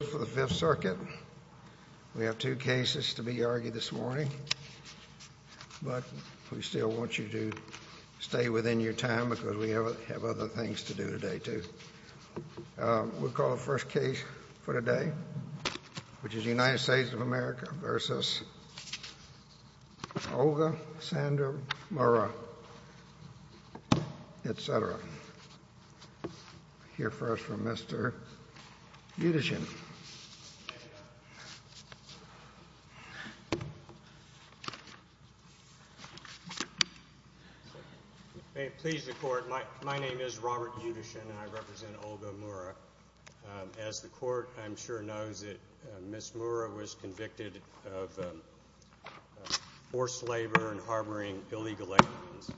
We have two cases to be argued this morning, but we still want you to stay within your time because we have other things to do today too. We'll call the first case for today, which is United States of America v. Olga Sandra Murra, etc. We'll hear first from Mr. Yudishin. May it please the Court, my name is Robert Yudishin and I represent Olga Murra. As the Court, I'm sure, knows that Ms. Murra was convicted of forced labor and harboring illegal aliens.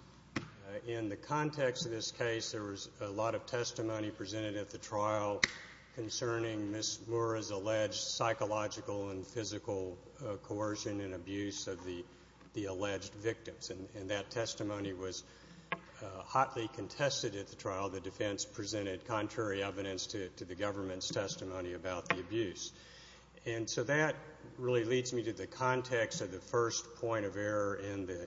In the context of this case, there was a lot of testimony presented at the trial concerning Ms. Murra's alleged psychological and physical coercion and abuse of the alleged victims. And that testimony was hotly contested at the trial. The defense presented contrary evidence to the government's testimony about the abuse. And so that really leads me to the context of the first point of error in the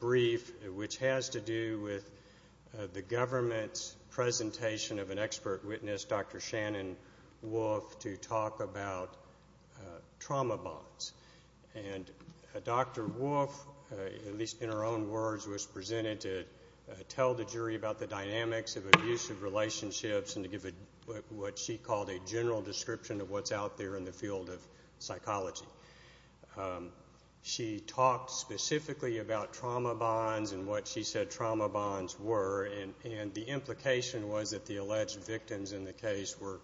brief, which has to do with the government's presentation of an expert witness, Dr. Shannon Wolf, to talk about trauma bonds. And Dr. Wolf, at least in her own words, was presented to tell the jury about the dynamics of abusive relationships and to give what she called a general description of what's out there in the field of psychology. She talked specifically about trauma bonds and what she said trauma bonds were, and the implication was that the alleged victims in the case were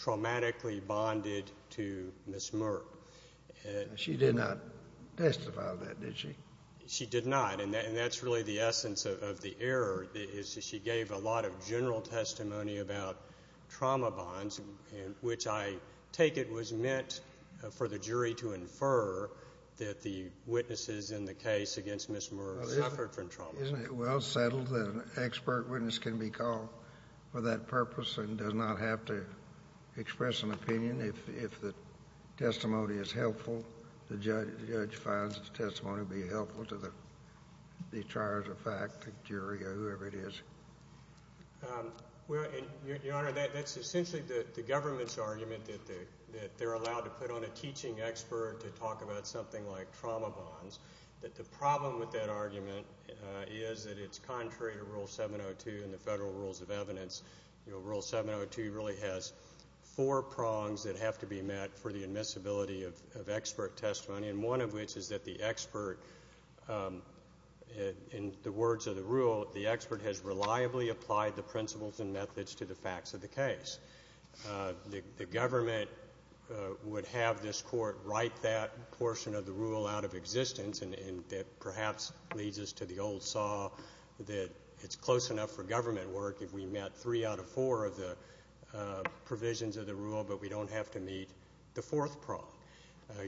traumatically bonded to Ms. Murra. She did not testify to that, did she? She did not. And that's really the essence of the error is that she gave a lot of general testimony about trauma bonds, which I take it was meant for the jury to infer that the witnesses in the case against Ms. Murra suffered from trauma. Isn't it well settled that an expert witness can be called for that purpose and does not have to express an opinion if the testimony is helpful, the judge finds the testimony to be helpful to the trier of fact, the jury, or whoever it is? Your Honor, that's essentially the government's argument that they're allowed to put on a teaching expert to talk about something like trauma bonds, that the problem with that argument is that it's contrary to Rule 702 and the federal rules of evidence. Rule 702 really has four prongs that have to be met for the admissibility of expert testimony, and one of which is that the expert, in the words of the rule, the expert has reliably applied the principles and methods to the facts of the case. The government would have this court write that portion of the rule out of existence and that perhaps leads us to the old saw that it's close enough for government work if we met three out of four of the provisions of the rule but we don't have to meet the fourth prong.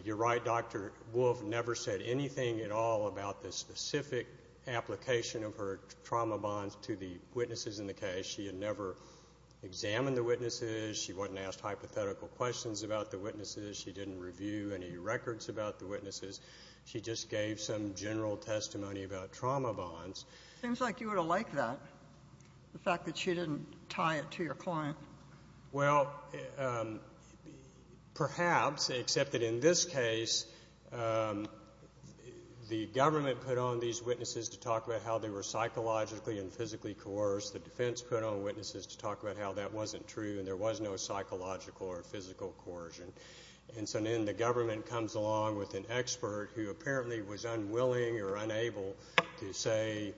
You're right, Dr. Wolfe never said anything at all about the specific application of her trauma bonds to the witnesses in the case. She had never examined the witnesses. She wasn't asked hypothetical questions about the witnesses. She didn't review any records about the witnesses. She just gave some general testimony about trauma bonds. Seems like you would have liked that, the fact that she didn't tie it to your client. Well, perhaps, except that in this case, the government put on these witnesses to talk about how they were psychologically and physically coerced. The defense put on witnesses to talk about how that wasn't true and there was no psychological or physical coercion. And so then the government comes along with an expert who apparently was unwilling or unable to say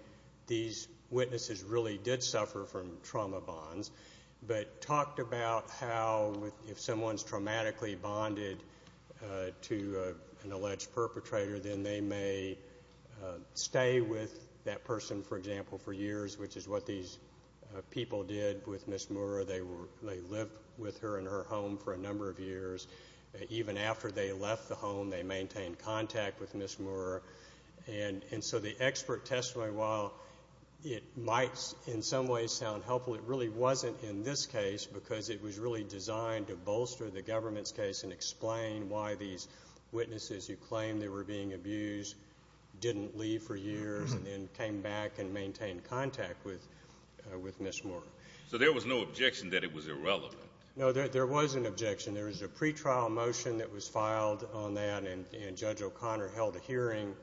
these witnesses really did suffer from trauma bonds but talked about how if someone's traumatically bonded to an alleged perpetrator, then they may stay with that person, for example, for years, which is what these people did with Ms. Moore. They lived with her in her home for a number of years. Even after they left the home, they maintained contact with Ms. Moore. And so the expert testimony, while it might in some ways sound helpful, it really wasn't in this case because it was really designed to bolster the government's case and explain why these witnesses who claimed they were being abused didn't leave for years and then came back and maintained contact with Ms. Moore. So there was no objection that it was irrelevant? No, there was an objection. There was a pretrial motion that was filed on that, and Judge O'Connor held a hearing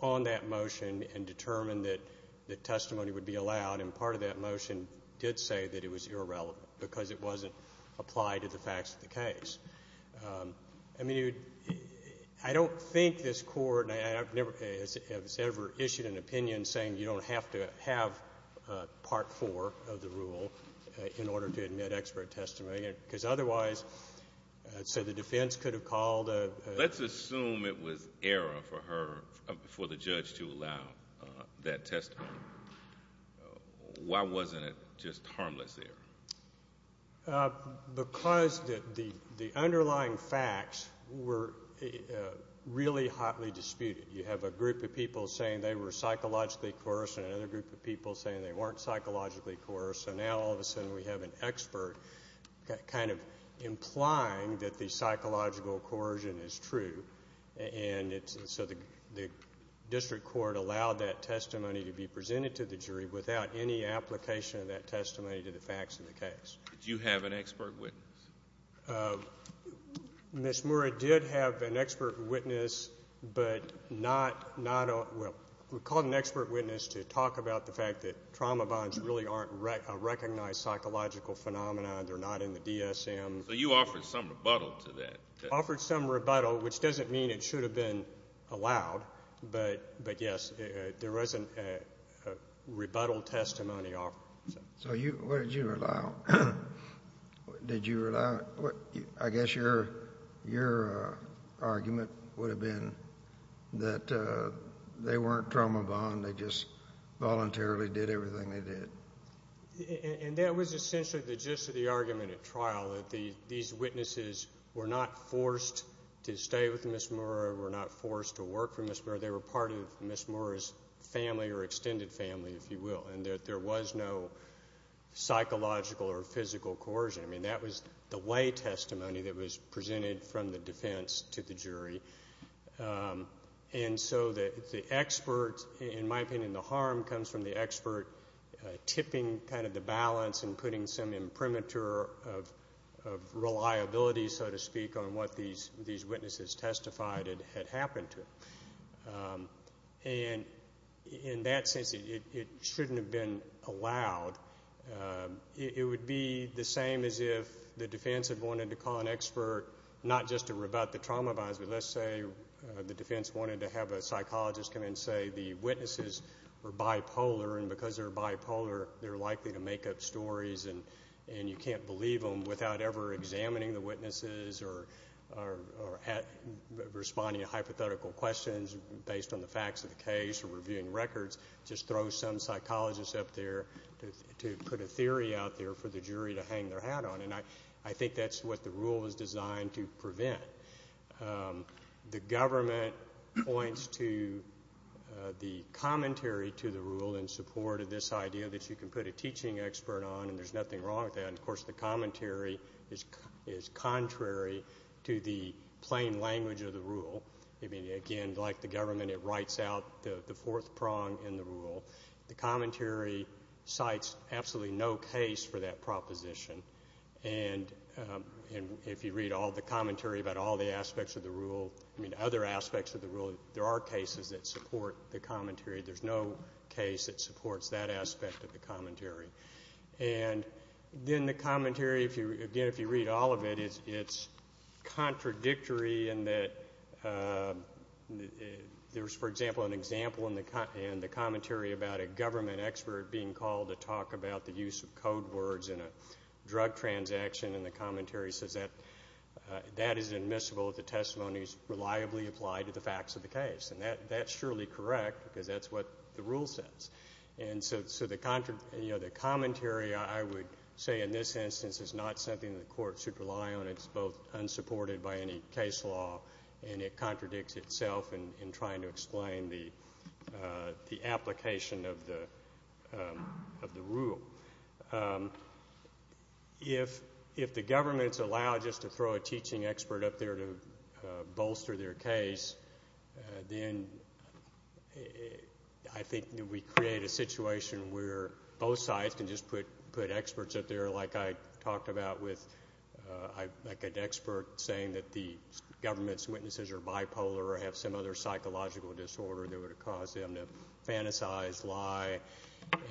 on that motion and determined that testimony would be allowed, and part of that motion did say that it was irrelevant because it wasn't applied to the facts of the case. I mean, I don't think this Court has ever issued an opinion saying you don't have to have Part IV of the rule in order to admit expert testimony, because otherwise, so the defense could have called a ---- Let's assume it was error for her, for the judge to allow that testimony. Why wasn't it just harmless there? Because the underlying facts were really hotly disputed. You have a group of people saying they were psychologically coerced and another group of people saying they weren't psychologically coerced, so now all of a sudden we have an expert kind of implying that the psychological coercion is true. And so the district court allowed that testimony to be presented to the jury without any application of that testimony to the facts of the case. Did you have an expert witness? Ms. Moore did have an expert witness, but not, well, we called an expert witness to talk about the fact that trauma bonds really aren't recognized psychological phenomena. They're not in the DSM. So you offered some rebuttal to that. We offered some rebuttal, which doesn't mean it should have been allowed, but, yes, there was a rebuttal testimony offered. So what did you allow? Did you allow, I guess your argument would have been that they weren't trauma bond, they just voluntarily did everything they did. And that was essentially the gist of the argument at trial, that these witnesses were not forced to stay with Ms. Moore or were not forced to work for Ms. Moore. They were part of Ms. Moore's family or extended family, if you will, and that there was no psychological or physical coercion. I mean, that was the way testimony that was presented from the defense to the jury. And so the expert, in my opinion, the harm comes from the expert tipping kind of the balance and putting some imprimatur of reliability, so to speak, on what these witnesses testified had happened to. And in that sense, it shouldn't have been allowed. It would be the same as if the defense had wanted to call an expert not just to rebut the trauma bonds, but let's say the defense wanted to have a psychologist come in and say the witnesses were bipolar, and because they're bipolar, they're likely to make up stories, and you can't believe them without ever examining the witnesses or responding to hypothetical questions based on the facts of the case or reviewing records. Just throw some psychologist up there to put a theory out there for the jury to hang their hat on. And I think that's what the rule was designed to prevent. The government points to the commentary to the rule in support of this idea that you can put a teaching expert on, and there's nothing wrong with that. And, of course, the commentary is contrary to the plain language of the rule. I mean, again, like the government, it writes out the fourth prong in the rule. The commentary cites absolutely no case for that proposition. And if you read all the commentary about all the aspects of the rule, I mean other aspects of the rule, there are cases that support the commentary. There's no case that supports that aspect of the commentary. And then the commentary, again, if you read all of it, it's contradictory in that there's, for example, an example in the commentary about a government expert being called to talk about the use of code words in a drug transaction, and the commentary says that that is admissible if the testimony is reliably applied to the facts of the case. And that's surely correct because that's what the rule says. And so the commentary, I would say in this instance, is not something the Court should rely on. It's both unsupported by any case law, and it contradicts itself in trying to explain the application of the rule. If the government's allowed just to throw a teaching expert up there to bolster their case, then I think we create a situation where both sides can just put experts up there, like I talked about with an expert saying that the government's witnesses are bipolar or have some other psychological disorder that would have caused them to fantasize, lie.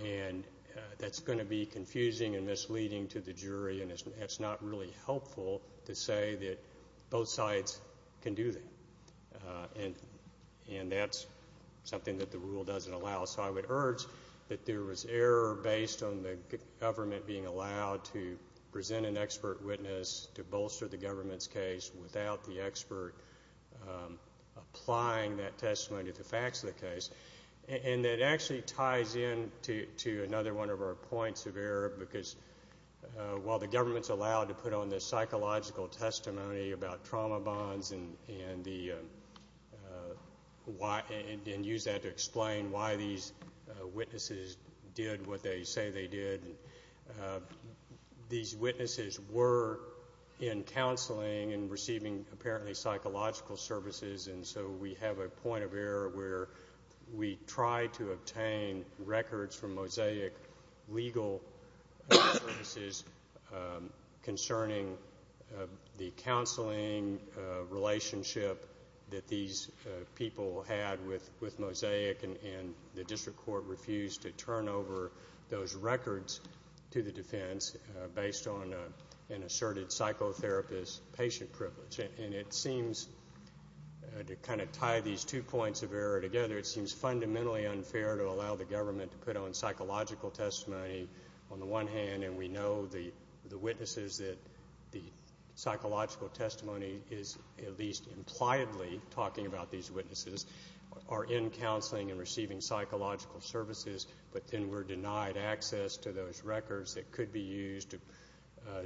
And that's going to be confusing and misleading to the jury, and it's not really helpful to say that both sides can do that. And that's something that the rule doesn't allow. So I would urge that there was error based on the government being allowed to present an expert witness to bolster the government's case without the expert applying that testimony to the facts of the case. And that actually ties in to another one of our points of error, because while the government's allowed to put on this psychological testimony about trauma bonds and use that to explain why these witnesses did what they say they did, these witnesses were in counseling and receiving apparently psychological services, and so we have a point of error where we try to obtain records from Mosaic Legal Services concerning the counseling relationship that these people had with Mosaic, and the district court refused to turn over those records to the defense based on an asserted psychotherapist patient privilege. And it seems to kind of tie these two points of error together, it seems fundamentally unfair to allow the government to put on psychological testimony on the one hand and we know the witnesses that the psychological testimony is at least impliedly talking about these witnesses are in counseling and receiving psychological services, but then we're denied access to those records that could be used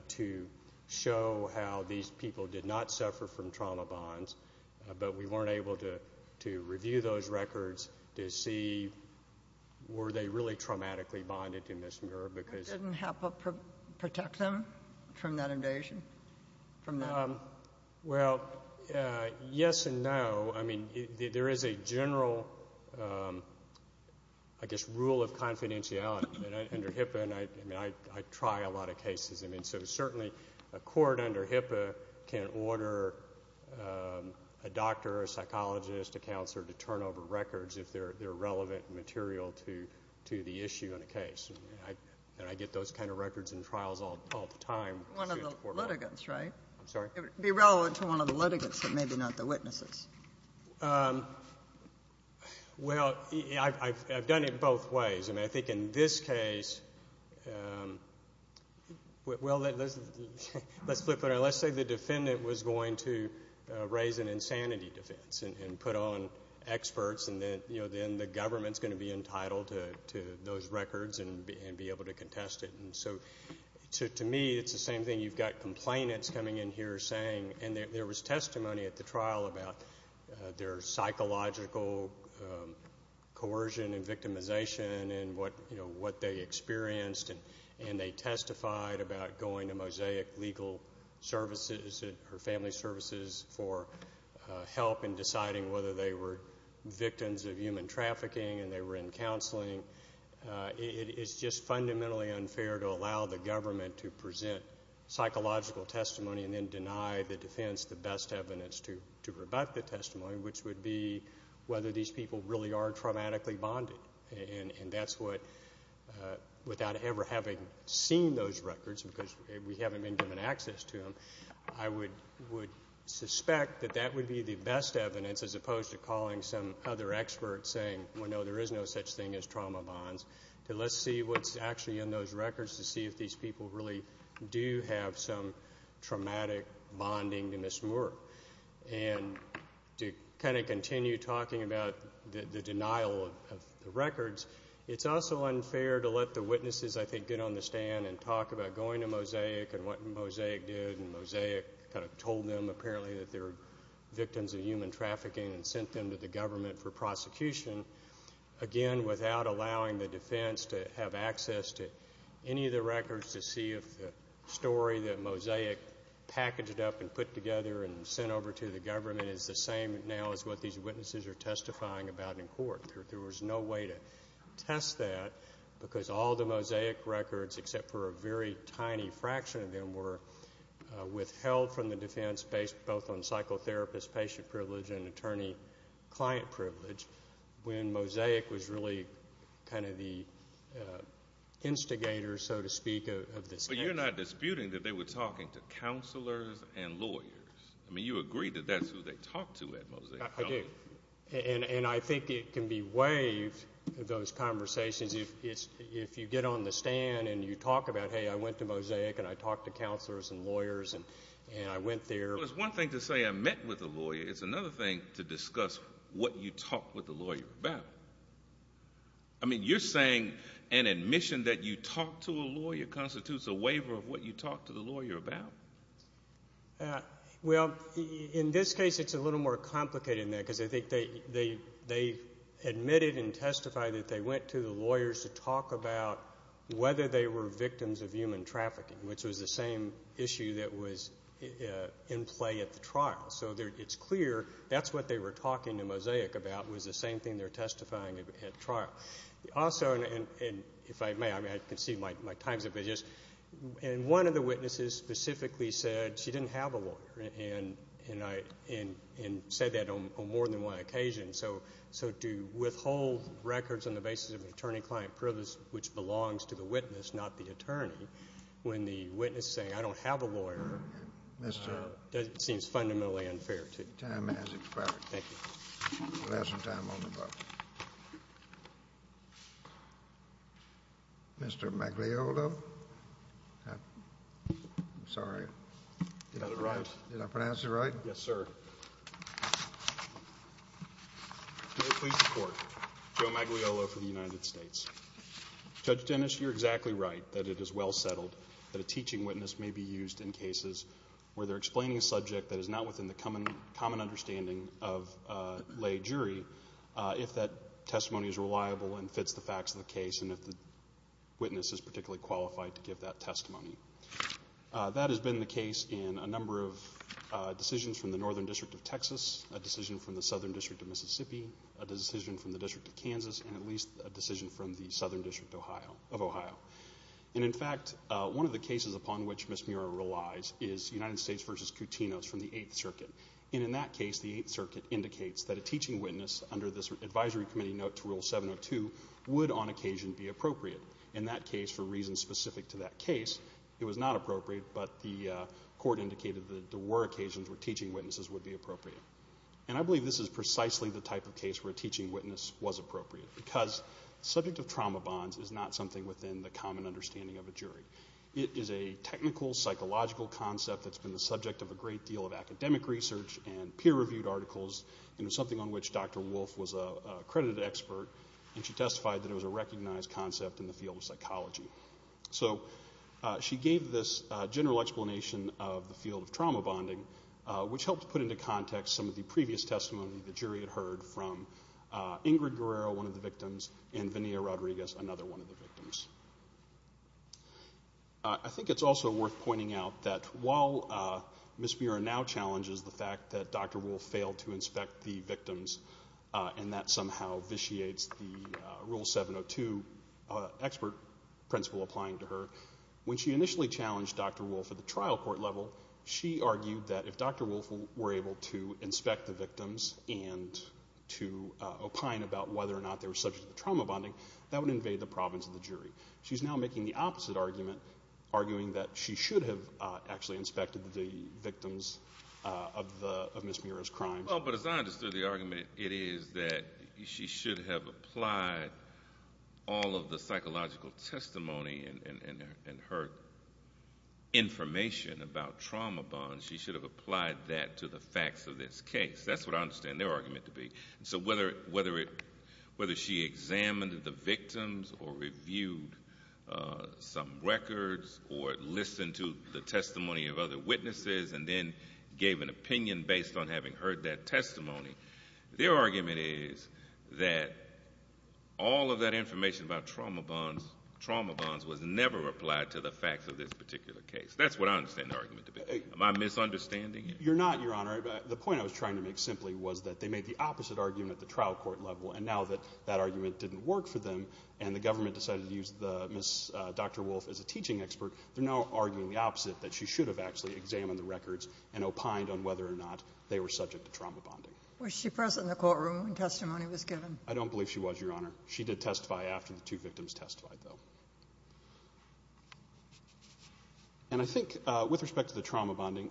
to show how these people did not suffer from trauma bonds, but we weren't able to review those records to see were they really traumatically bonded to misremember. Didn't HIPAA protect them from that invasion? Well, yes and no. I mean, there is a general, I guess, rule of confidentiality under HIPAA, and I try a lot of cases, and so certainly a court under HIPAA can order a doctor, a psychologist, a counselor, to turn over records if they're relevant material to the issue in a case. And I get those kind of records in trials all the time. One of the litigants, right? I'm sorry? It would be relevant to one of the litigants, but maybe not the witnesses. Well, I've done it both ways, and I think in this case, well, let's flip it around. Let's say the defendant was going to raise an insanity defense and put on experts, and then the government's going to be entitled to those records and be able to contest it. And so to me, it's the same thing. You've got complainants coming in here saying, and there was testimony at the trial about their psychological coercion and victimization and what they experienced, and they testified about going to Mosaic Legal Services or Family Services for help in deciding whether they were victims of human trafficking and they were in counseling. It's just fundamentally unfair to allow the government to present psychological testimony and then deny the defense the best evidence to rebut the testimony, which would be whether these people really are traumatically bonded. And that's what, without ever having seen those records, because we haven't been given access to them, I would suspect that that would be the best evidence, as opposed to calling some other expert saying, well, no, there is no such thing as trauma bonds. Let's see what's actually in those records to see if these people really do have some traumatic bonding to Ms. Moore. And to kind of continue talking about the denial of the records, it's also unfair to let the witnesses, I think, get on the stand and talk about going to Mosaic and what Mosaic did, and Mosaic kind of told them apparently that they were victims of human trafficking and sent them to the government for prosecution, again, without allowing the defense to have access to any of the records to see if the story that Mosaic packaged up and put together and sent over to the government is the same now as what these witnesses are testifying about in court. There was no way to test that because all the Mosaic records, except for a very tiny fraction of them, were withheld from the defense, based both on psychotherapist patient privilege and attorney client privilege, when Mosaic was really kind of the instigator, so to speak, of this. But you're not disputing that they were talking to counselors and lawyers. I mean, you agree that that's who they talked to at Mosaic, don't you? I do. And I think it can be waived, those conversations, if you get on the stand and you talk about, hey, I went to Mosaic and I talked to counselors and lawyers and I went there. Well, it's one thing to say I met with a lawyer. It's another thing to discuss what you talked with a lawyer about. I mean, you're saying an admission that you talked to a lawyer constitutes a waiver of what you talked to the lawyer about? Well, in this case, it's a little more complicated than that because I think they admitted and testified that they went to the lawyers to talk about whether they were victims of human trafficking, which was the same issue that was in play at the trial. So it's clear that's what they were talking to Mosaic about was the same thing they're testifying at trial. Also, and if I may, I mean, I can see my time's up, but just one of the witnesses specifically said she didn't have a lawyer and said that on more than one occasion. So to withhold records on the basis of an attorney-client privilege, which belongs to the witness, not the attorney, when the witness is saying I don't have a lawyer, that seems fundamentally unfair to me. Your time has expired. Thank you. You'll have some time on the book. Mr. Magliolo? I'm sorry. Did I pronounce it right? Yes, sir. May it please the Court. Joe Magliolo for the United States. Judge Dennis, you're exactly right that it is well settled that a teaching witness may be used in cases where they're explaining a subject that is not within the common understanding of a lay jury, if that testimony is reliable and fits the facts of the case and if the witness is particularly qualified to give that testimony. That has been the case in a number of decisions from the Northern District of Texas, a decision from the Southern District of Mississippi, a decision from the District of Kansas, and at least a decision from the Southern District of Ohio. And, in fact, one of the cases upon which Ms. Muirer relies is United States v. Coutinhos from the Eighth Circuit. And in that case, the Eighth Circuit indicates that a teaching witness, under this advisory committee note to Rule 702, would on occasion be appropriate. In that case, for reasons specific to that case, it was not appropriate, but the Court indicated that there were occasions where teaching witnesses would be appropriate. And I believe this is precisely the type of case where a teaching witness was appropriate because the subject of trauma bonds is not something within the common understanding of a jury. It is a technical, psychological concept that's been the subject of a great deal of academic research and peer-reviewed articles and is something on which Dr. Wolfe was an accredited expert, and she testified that it was a recognized concept in the field of psychology. So she gave this general explanation of the field of trauma bonding, which helped put into context some of the previous testimony the jury had heard from Ingrid Guerrero, one of the victims, and Vinia Rodriguez, another one of the victims. I think it's also worth pointing out that while Ms. Muirer now challenges the fact that Dr. Wolfe failed to inspect the victims and that somehow vitiates the Rule 702 expert principle applying to her, when she initially challenged Dr. Wolfe at the trial court level, she argued that if Dr. Wolfe were able to inspect the victims and to opine about whether or not they were subject to trauma bonding, that would invade the province of the jury. She's now making the opposite argument, arguing that she should have actually inspected the victims of Ms. Muirer's crimes. Well, but as I understood the argument, it is that she should have applied all of the psychological testimony and her information about trauma bonds, she should have applied that to the facts of this case. That's what I understand their argument to be. So whether she examined the victims or reviewed some records or listened to the testimony of other witnesses and then gave an opinion based on having heard that testimony, their argument is that all of that information about trauma bonds was never applied to the facts of this particular case. That's what I understand their argument to be. Am I misunderstanding you? You're not, Your Honor. The point I was trying to make simply was that they made the opposite argument at the trial court level, and now that that argument didn't work for them and the government decided to use Dr. Wolfe as a teaching expert, they're now arguing the opposite, that she should have actually examined the records and opined on whether or not they were subject to trauma bonding. Was she present in the courtroom when testimony was given? I don't believe she was, Your Honor. She did testify after the two victims testified, though. And I think with respect to the trauma bonding,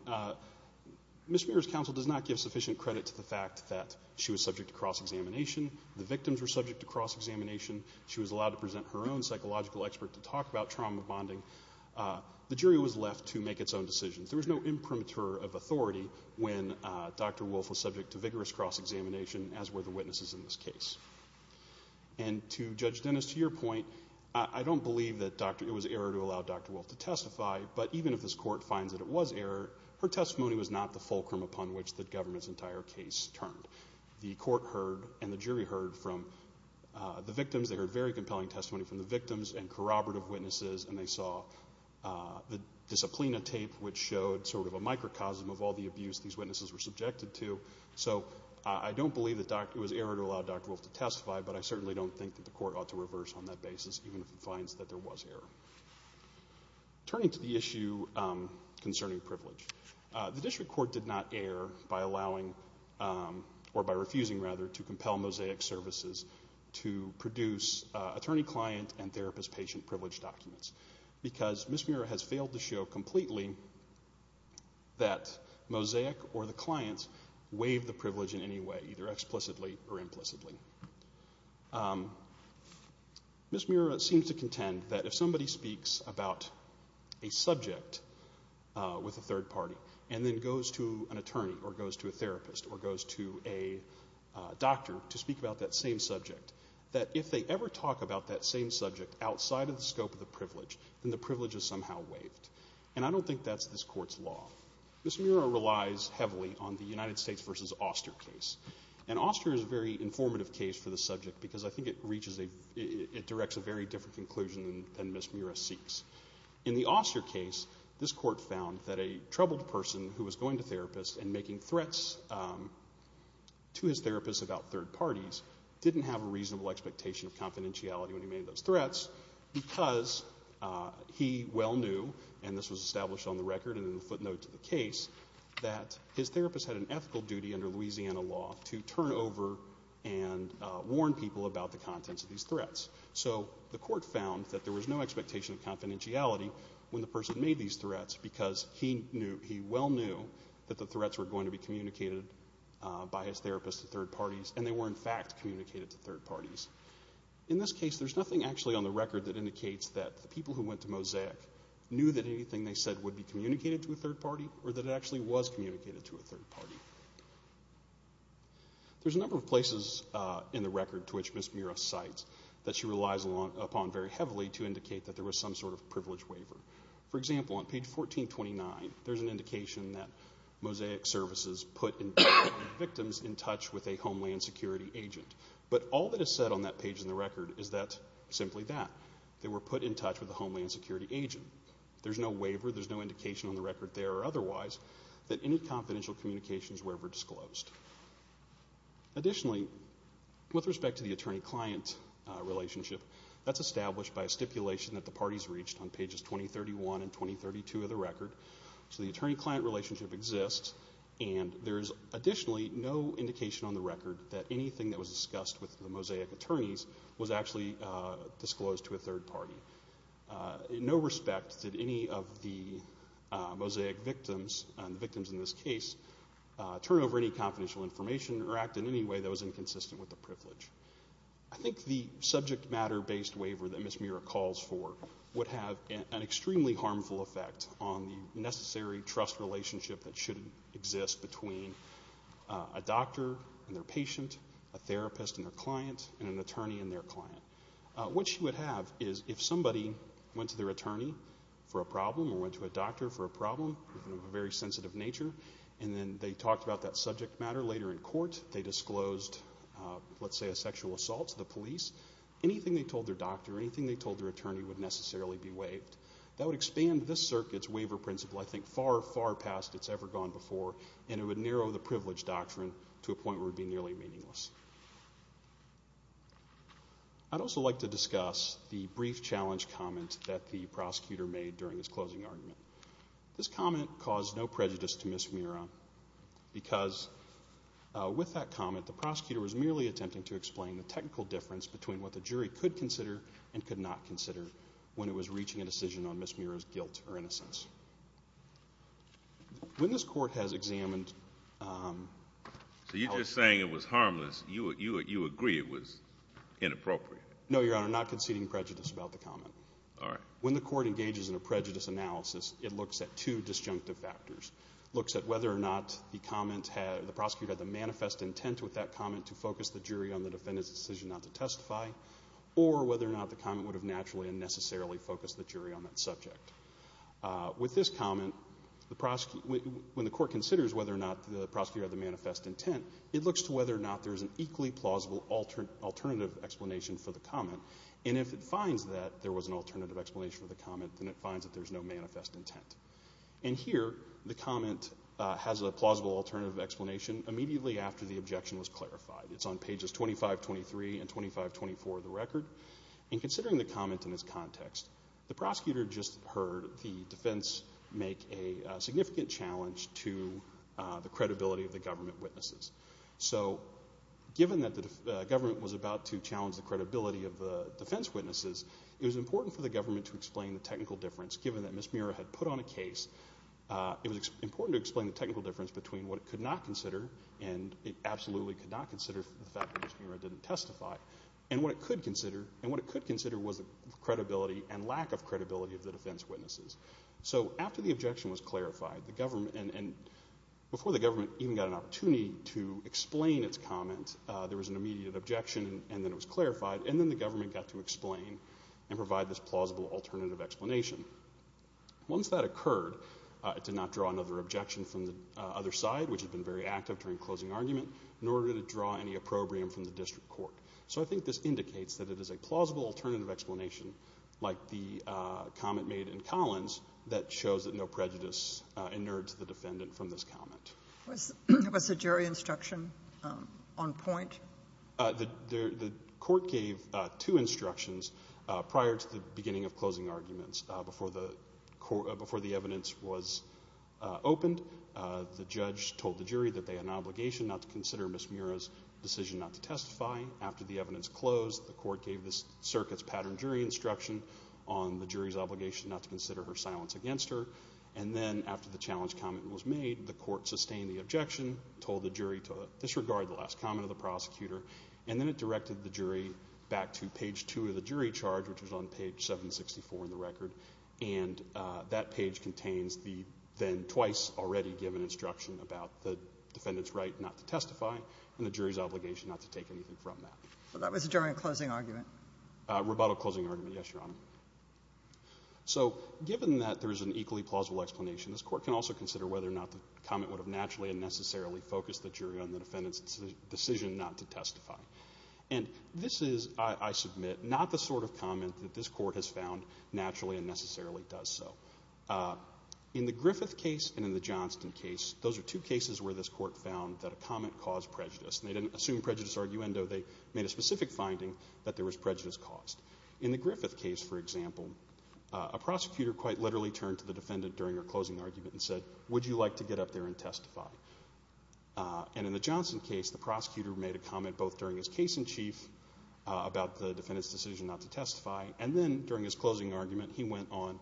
Ms. Muirer's counsel does not give sufficient credit to the fact that she was subject to cross-examination. The victims were subject to cross-examination. She was allowed to present her own psychological expert to talk about trauma bonding. The jury was left to make its own decisions. There was no imprimatur of authority when Dr. Wolfe was subject to vigorous cross-examination, as were the witnesses in this case. And to Judge Dennis, to your point, I don't believe that it was error to allow Dr. Wolfe to testify, but even if this Court finds that it was error, her testimony was not the fulcrum upon which the government's entire case turned. The Court heard and the jury heard from the victims. They heard very compelling testimony from the victims and corroborative witnesses, and they saw the disciplina tape, which showed sort of a microcosm of all the abuse these witnesses were subjected to. So I don't believe that it was error to allow Dr. Wolfe to testify, but I certainly don't think that the Court ought to reverse on that basis, even if it finds that there was error. Turning to the issue concerning privilege, to compel Mosaic Services to produce attorney-client and therapist-patient privilege documents, because Ms. Murrah has failed to show completely that Mosaic or the clients waive the privilege in any way, either explicitly or implicitly. Ms. Murrah seems to contend that if somebody speaks about a subject with a third party and then goes to an attorney or goes to a therapist or goes to a doctor to speak about that same subject, that if they ever talk about that same subject outside of the scope of the privilege, then the privilege is somehow waived. And I don't think that's this Court's law. Ms. Murrah relies heavily on the United States v. Oster case. And Oster is a very informative case for the subject because I think it reaches a — it directs a very different conclusion than Ms. Murrah seeks. In the Oster case, this Court found that a troubled person who was going to therapists and making threats to his therapist about third parties didn't have a reasonable expectation of confidentiality when he made those threats because he well knew, and this was established on the record and in the footnote to the case, that his therapist had an ethical duty under Louisiana law to turn over and warn people about the contents of these threats. So the Court found that there was no expectation of confidentiality when the person made these threats because he knew, he well knew that the threats were going to be communicated by his therapist to third parties, and they were, in fact, communicated to third parties. In this case, there's nothing actually on the record that indicates that the people who went to Mosaic knew that anything they said would be communicated to a third party or that it actually was communicated to a third party. There's a number of places in the record to which Ms. Murrah cites that she relies upon very heavily to indicate that there was some sort of privilege waiver. For example, on page 1429, there's an indication that Mosaic Services put victims in touch with a Homeland Security agent, but all that is said on that page in the record is simply that. They were put in touch with a Homeland Security agent. There's no waiver, there's no indication on the record there or otherwise that any confidential communications were ever disclosed. Additionally, with respect to the attorney-client relationship, that's established by a stipulation that the parties reached on pages 2031 and 2032 of the record. So the attorney-client relationship exists, and there's additionally no indication on the record that anything that was discussed with the Mosaic attorneys was actually disclosed to a third party. In no respect did any of the Mosaic victims, the victims in this case, turn over any confidential information or act in any way that was inconsistent with the privilege. I think the subject matter-based waiver that Ms. Murrah calls for would have an extremely harmful effect on the necessary trust relationship that should exist between a doctor and their patient, a therapist and their client, and an attorney and their client. What she would have is if somebody went to their attorney for a problem or went to a doctor for a problem of a very sensitive nature, and then they talked about that subject matter later in court, they disclosed, let's say, a sexual assault to the police, anything they told their doctor or anything they told their attorney would necessarily be waived. That would expand this circuit's waiver principle, I think, far, far past it's ever gone before, and it would narrow the privilege doctrine to a point where it would be nearly meaningless. I'd also like to discuss the brief challenge comment that the prosecutor made during his closing argument. This comment caused no prejudice to Ms. Murrah because with that comment, the prosecutor was merely attempting to explain the technical difference between what the jury could consider and could not consider when it was reaching a decision on Ms. Murrah's guilt or innocence. When this court has examined— So you're just saying it was harmless. You agree it was inappropriate. No, Your Honor, not conceding prejudice about the comment. All right. When the court engages in a prejudice analysis, it looks at two disjunctive factors. It looks at whether or not the comment had—the prosecutor had the manifest intent with that comment to focus the jury on the defendant's decision not to testify or whether or not the comment would have naturally and necessarily focused the jury on that subject. With this comment, when the court considers whether or not the prosecutor had the manifest intent, it looks to whether or not there's an equally plausible alternative explanation for the comment. And if it finds that there was an alternative explanation for the comment, then it finds that there's no manifest intent. And here, the comment has a plausible alternative explanation immediately after the objection was clarified. It's on pages 2523 and 2524 of the record. In considering the comment in this context, the prosecutor just heard the defense make a significant challenge to the credibility of the government witnesses. So given that the government was about to challenge the credibility of the defense witnesses, it was important for the government to explain the technical difference. Given that Ms. Mira had put on a case, it was important to explain the technical difference between what it could not consider and it absolutely could not consider for the fact that Ms. Mira didn't testify and what it could consider was the credibility and lack of credibility of the defense witnesses. So after the objection was clarified, and before the government even got an opportunity to explain its comment, there was an immediate objection and then it was clarified, and then the government got to explain and provide this plausible alternative explanation. Once that occurred, it did not draw another objection from the other side, which had been very active during closing argument, nor did it draw any opprobrium from the district court. So I think this indicates that it is a plausible alternative explanation, like the comment made in Collins, that shows that no prejudice inerred to the defendant from this comment. Was the jury instruction on point? The court gave two instructions prior to the beginning of closing arguments. Before the evidence was opened, the judge told the jury that they had an obligation not to consider Ms. Mira's decision not to testify. After the evidence closed, the court gave the circuit's pattern jury instruction on the jury's obligation not to consider her silence against her, and then after the challenge comment was made, the court sustained the objection, told the jury to disregard the last comment of the prosecutor, and then it directed the jury back to page two of the jury charge, which was on page 764 in the record, and that page contains the then twice already given instruction about the defendant's right not to testify and the jury's obligation not to take anything from that. So that was during closing argument? Rebuttal closing argument, yes, Your Honor. So given that there is an equally plausible explanation, this court can also consider whether or not the comment would have naturally and necessarily focused the jury on the defendant's decision not to testify. And this is, I submit, not the sort of comment that this court has found naturally and necessarily does so. In the Griffith case and in the Johnston case, those are two cases where this court found that a comment caused prejudice, and they didn't assume prejudice arguendo. They made a specific finding that there was prejudice caused. In the Griffith case, for example, a prosecutor quite literally turned to the defendant during her closing argument and said, Would you like to get up there and testify? And in the Johnston case, the prosecutor made a comment both during his case in chief about the defendant's decision not to testify, and then during his closing argument, he went on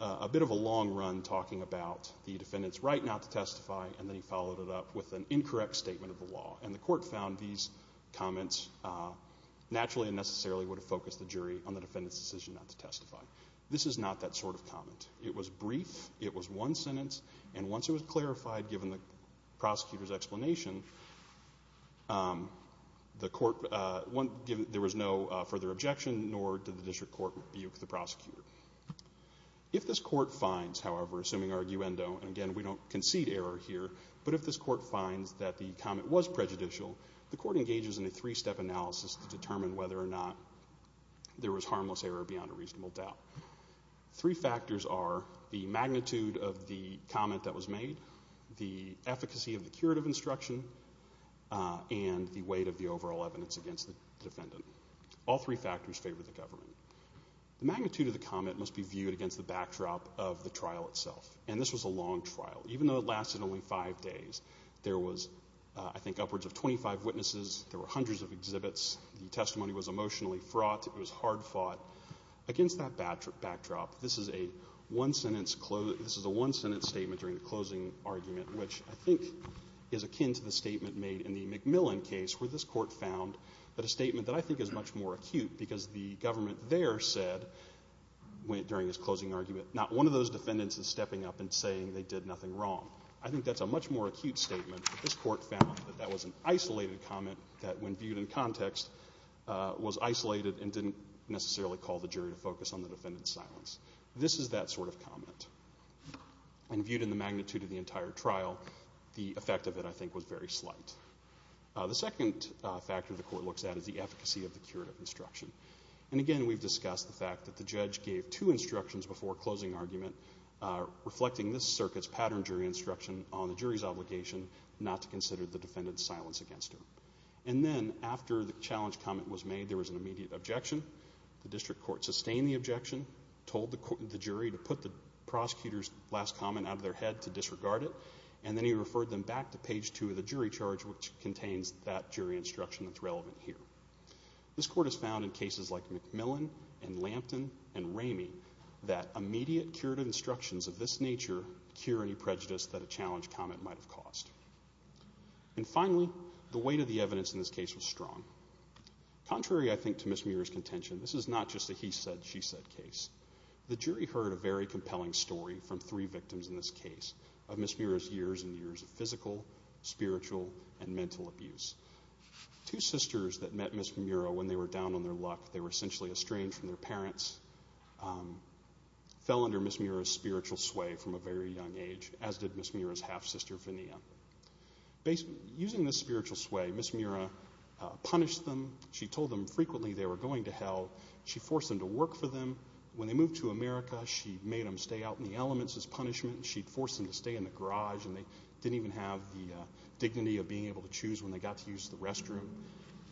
a bit of a long run talking about the defendant's right not to testify, and then he followed it up with an incorrect statement of the law. And the court found these comments naturally and necessarily would have focused the jury on the defendant's decision not to testify. This is not that sort of comment. It was brief. It was one sentence. And once it was clarified, given the prosecutor's explanation, the court, there was no further objection, nor did the district court rebuke the prosecutor. If this court finds, however, assuming arguendo, and again, we don't concede error here, but if this court finds that the comment was prejudicial, the court engages in a three-step analysis to determine whether or not there was harmless error beyond a reasonable doubt. Three factors are the magnitude of the comment that was made, the efficacy of the curative instruction, and the weight of the overall evidence against the defendant. All three factors favor the government. The magnitude of the comment must be viewed against the backdrop of the trial itself. And this was a long trial. Even though it lasted only five days, there was, I think, upwards of 25 witnesses. There were hundreds of exhibits. The testimony was emotionally fraught. It was hard fought. Against that backdrop, this is a one-sentence statement during the closing argument, which I think is akin to the statement made in the McMillan case where this court found that a statement that I think is much more acute because the government there said during this closing argument, not one of those defendants is stepping up and saying they did nothing wrong. I think that's a much more acute statement, but this court found that that was an isolated comment that when viewed in context was isolated and didn't necessarily call the jury to focus on the defendant's silence. This is that sort of comment. And viewed in the magnitude of the entire trial, the effect of it, I think, was very slight. The second factor the court looks at is the efficacy of the curative instruction. And again, we've discussed the fact that the judge gave two instructions before closing argument, reflecting this circuit's pattern jury instruction on the jury's obligation not to consider the defendant's silence against him. And then, after the challenge comment was made, there was an immediate objection. The district court sustained the objection, told the jury to put the prosecutor's last comment out of their head to disregard it, and then he referred them back to page 2 of the jury charge, which contains that jury instruction that's relevant here. This court has found in cases like McMillan and Lampton and Ramey that immediate curative instructions of this nature cure any prejudice that a challenge comment might have caused. And finally, the weight of the evidence in this case was strong. Contrary, I think, to Ms. Muir's contention, this is not just a he said, she said case. The jury heard a very compelling story from three victims in this case of Ms. Muir's years and years of physical, spiritual, and mental abuse. Two sisters that met Ms. Muir when they were down on their luck, they were essentially estranged from their parents, fell under Ms. Muir's spiritual sway from a very young age, as did Ms. Muir's half-sister, Fenia. Using this spiritual sway, Ms. Muir punished them. She told them frequently they were going to hell. She forced them to work for them. When they moved to America, she made them stay out in the elements as punishment. She forced them to stay in the garage, and they didn't even have the dignity of being able to choose when they got to use the restroom.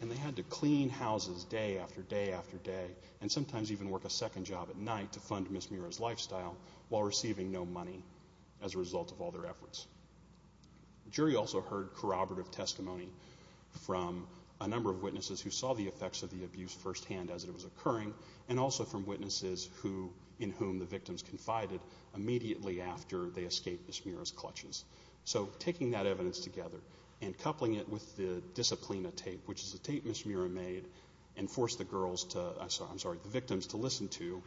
And they had to clean houses day after day after day and sometimes even work a second job at night to fund Ms. Muir's lifestyle while receiving no money as a result of all their efforts. The jury also heard corroborative testimony from a number of witnesses who saw the effects of the abuse firsthand as it was occurring, and also from witnesses in whom the victims confided immediately after they escaped Ms. Muir's clutches. So taking that evidence together and coupling it with the disciplina tape, which is a tape Ms. Muir made, and forced the victims to listen to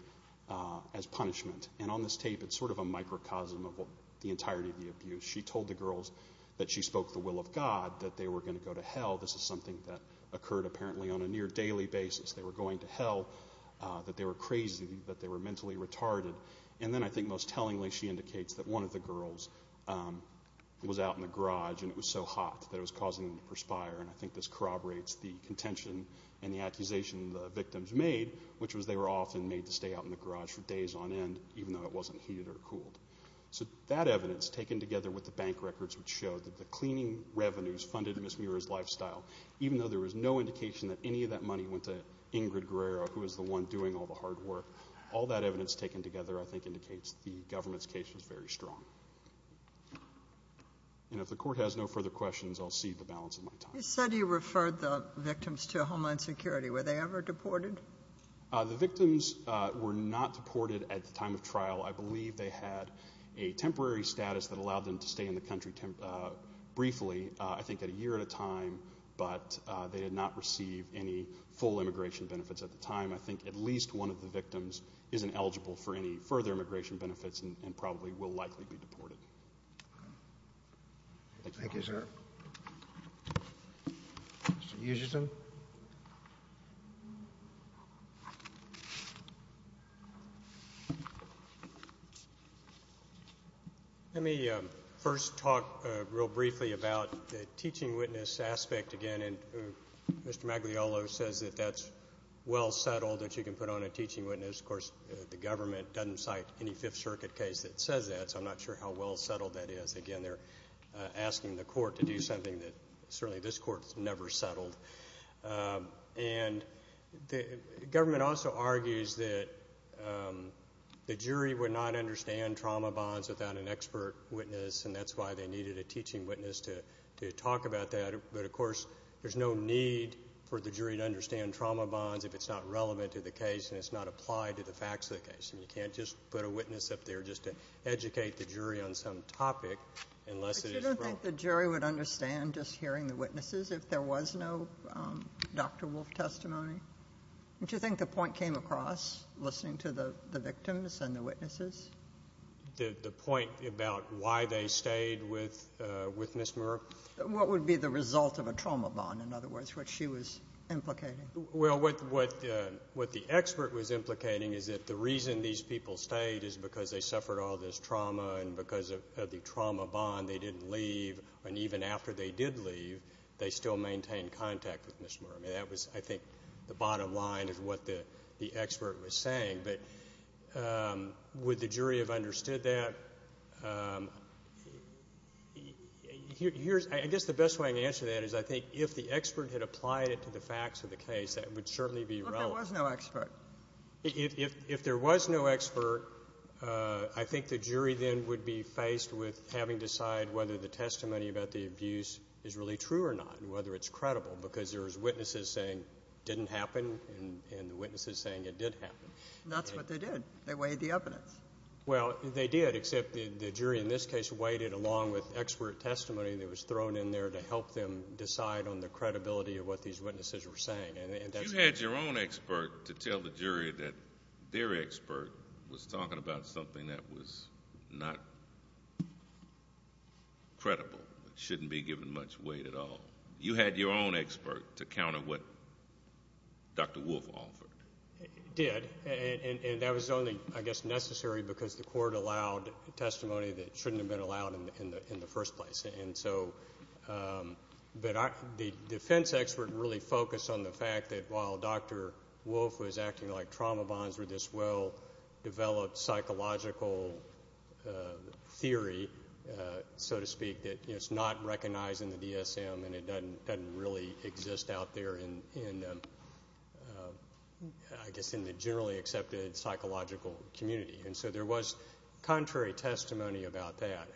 as punishment. And on this tape, it's sort of a microcosm of the entirety of the abuse. She told the girls that she spoke the will of God, that they were going to go to hell. This is something that occurred apparently on a near daily basis. They were going to hell, that they were crazy, that they were mentally retarded. And then I think most tellingly she indicates that one of the girls was out in the garage and it was so hot that it was causing them to perspire, and I think this corroborates the contention and the accusation the victims made, which was they were often made to stay out in the garage for days on end even though it wasn't heated or cooled. So that evidence, taken together with the bank records, which showed that the cleaning revenues funded Ms. Muir's lifestyle, even though there was no indication that any of that money went to Ingrid Guerrero, who was the one doing all the hard work, all that evidence taken together I think indicates the government's case was very strong. And if the Court has no further questions, I'll cede the balance of my time. You said you referred the victims to Homeland Security. Were they ever deported? The victims were not deported at the time of trial. I believe they had a temporary status that allowed them to stay in the country briefly, I think at a year at a time, but they did not receive any full immigration benefits at the time. I think at least one of the victims isn't eligible for any further immigration benefits and probably will likely be deported. Thank you, sir. Mr. Usherton. Let me first talk real briefly about the teaching witness aspect again. And Mr. Magliolo says that that's well settled, that you can put on a teaching witness. Of course, the government doesn't cite any Fifth Circuit case that says that, so I'm not sure how well settled that is. Again, they're asking the Court to do something that certainly this Court has never settled. And the government also argues that the jury would not understand trauma bonds without an expert witness, and that's why they needed a teaching witness to talk about that. But, of course, there's no need for the jury to understand trauma bonds if it's not relevant to the case and it's not applied to the facts of the case. And you can't just put a witness up there just to educate the jury on some topic unless it is real. But you don't think the jury would understand just hearing the witnesses if there was no Dr. Wolf testimony? Don't you think the point came across listening to the victims and the witnesses? The point about why they stayed with Ms. Murr? What would be the result of a trauma bond, in other words, what she was implicating? Well, what the expert was implicating is that the reason these people stayed is because they suffered all this trauma and because of the trauma bond they didn't leave. And even after they did leave, they still maintained contact with Ms. Murr. I mean, that was, I think, the bottom line of what the expert was saying. But would the jury have understood that? I guess the best way to answer that is I think if the expert had applied it to the facts of the case, that would certainly be relevant. But there was no expert. If there was no expert, I think the jury then would be faced with having to decide whether the testimony about the abuse is really true or not and whether it's credible, because there was witnesses saying it didn't happen and the witnesses saying it did happen. That's what they did. They weighed the evidence. Well, they did, except the jury in this case weighed it along with expert testimony that was thrown in there to help them decide on the credibility of what these witnesses were saying. You had your own expert to tell the jury that their expert was talking about something that was not credible, shouldn't be given much weight at all. You had your own expert to counter what Dr. Wolfe offered. He did, and that was only, I guess, necessary because the court allowed testimony that shouldn't have been allowed in the first place. The defense expert really focused on the fact that while Dr. Wolfe was acting like trauma bonds were this well-developed psychological theory, so to speak, that it's not recognized in the DSM and it doesn't really exist out there in, I guess, in the generally accepted psychological community. And so there was contrary testimony about that,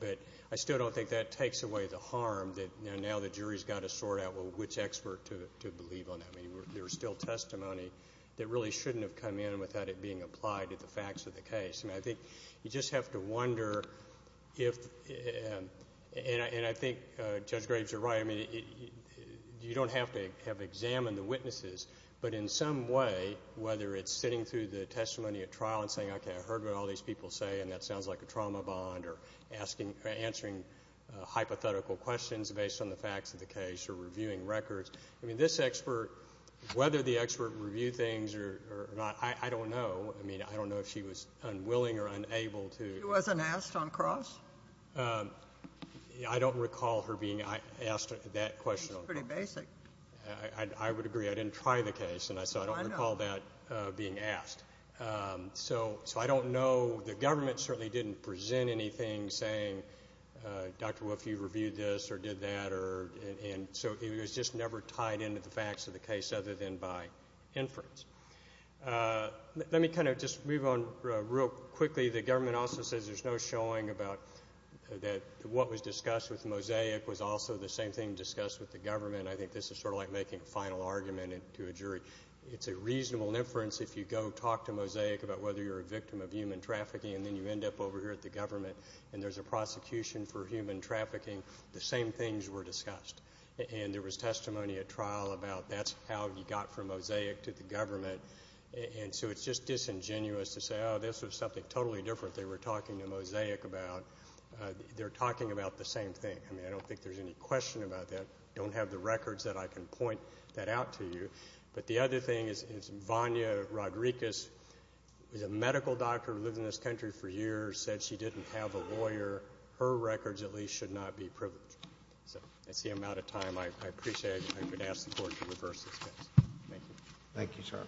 but I still don't think that takes away the harm that now the jury's got to sort out, well, which expert to believe on that. I mean, there was still testimony that really shouldn't have come in without it being applied to the facts of the case. I think you just have to wonder if, and I think Judge Graves is right, you don't have to have examined the witnesses, but in some way whether it's sitting through the testimony at trial and saying, okay, I heard what all these people say and that sounds like a trauma bond or answering hypothetical questions based on the facts of the case or reviewing records. I mean, this expert, whether the expert reviewed things or not, I don't know. I mean, I don't know if she was unwilling or unable to. She wasn't asked on cross? I don't recall her being asked that question. It's pretty basic. I would agree. I didn't try the case, and so I don't recall that being asked. So I don't know. The government certainly didn't present anything saying, Dr. Wolf, you reviewed this or did that. And so it was just never tied into the facts of the case other than by inference. Let me kind of just move on real quickly. The government also says there's no showing about that what was discussed with Mosaic was also the same thing discussed with the government. I think this is sort of like making a final argument to a jury. It's a reasonable inference if you go talk to Mosaic about whether you're a victim of human trafficking and then you end up over here at the government and there's a prosecution for human trafficking, the same things were discussed. And there was testimony at trial about that's how you got from Mosaic to the government. And so it's just disingenuous to say, oh, this was something totally different they were talking to Mosaic about. They're talking about the same thing. I mean, I don't think there's any question about that. I don't have the records that I can point that out to you. But the other thing is Vanya Rodriguez was a medical doctor who lived in this country for years, said she didn't have a lawyer. Her records at least should not be privileged. So that's the amount of time. I appreciate it. I'm going to ask the Court to reverse this case. Thank you, sir.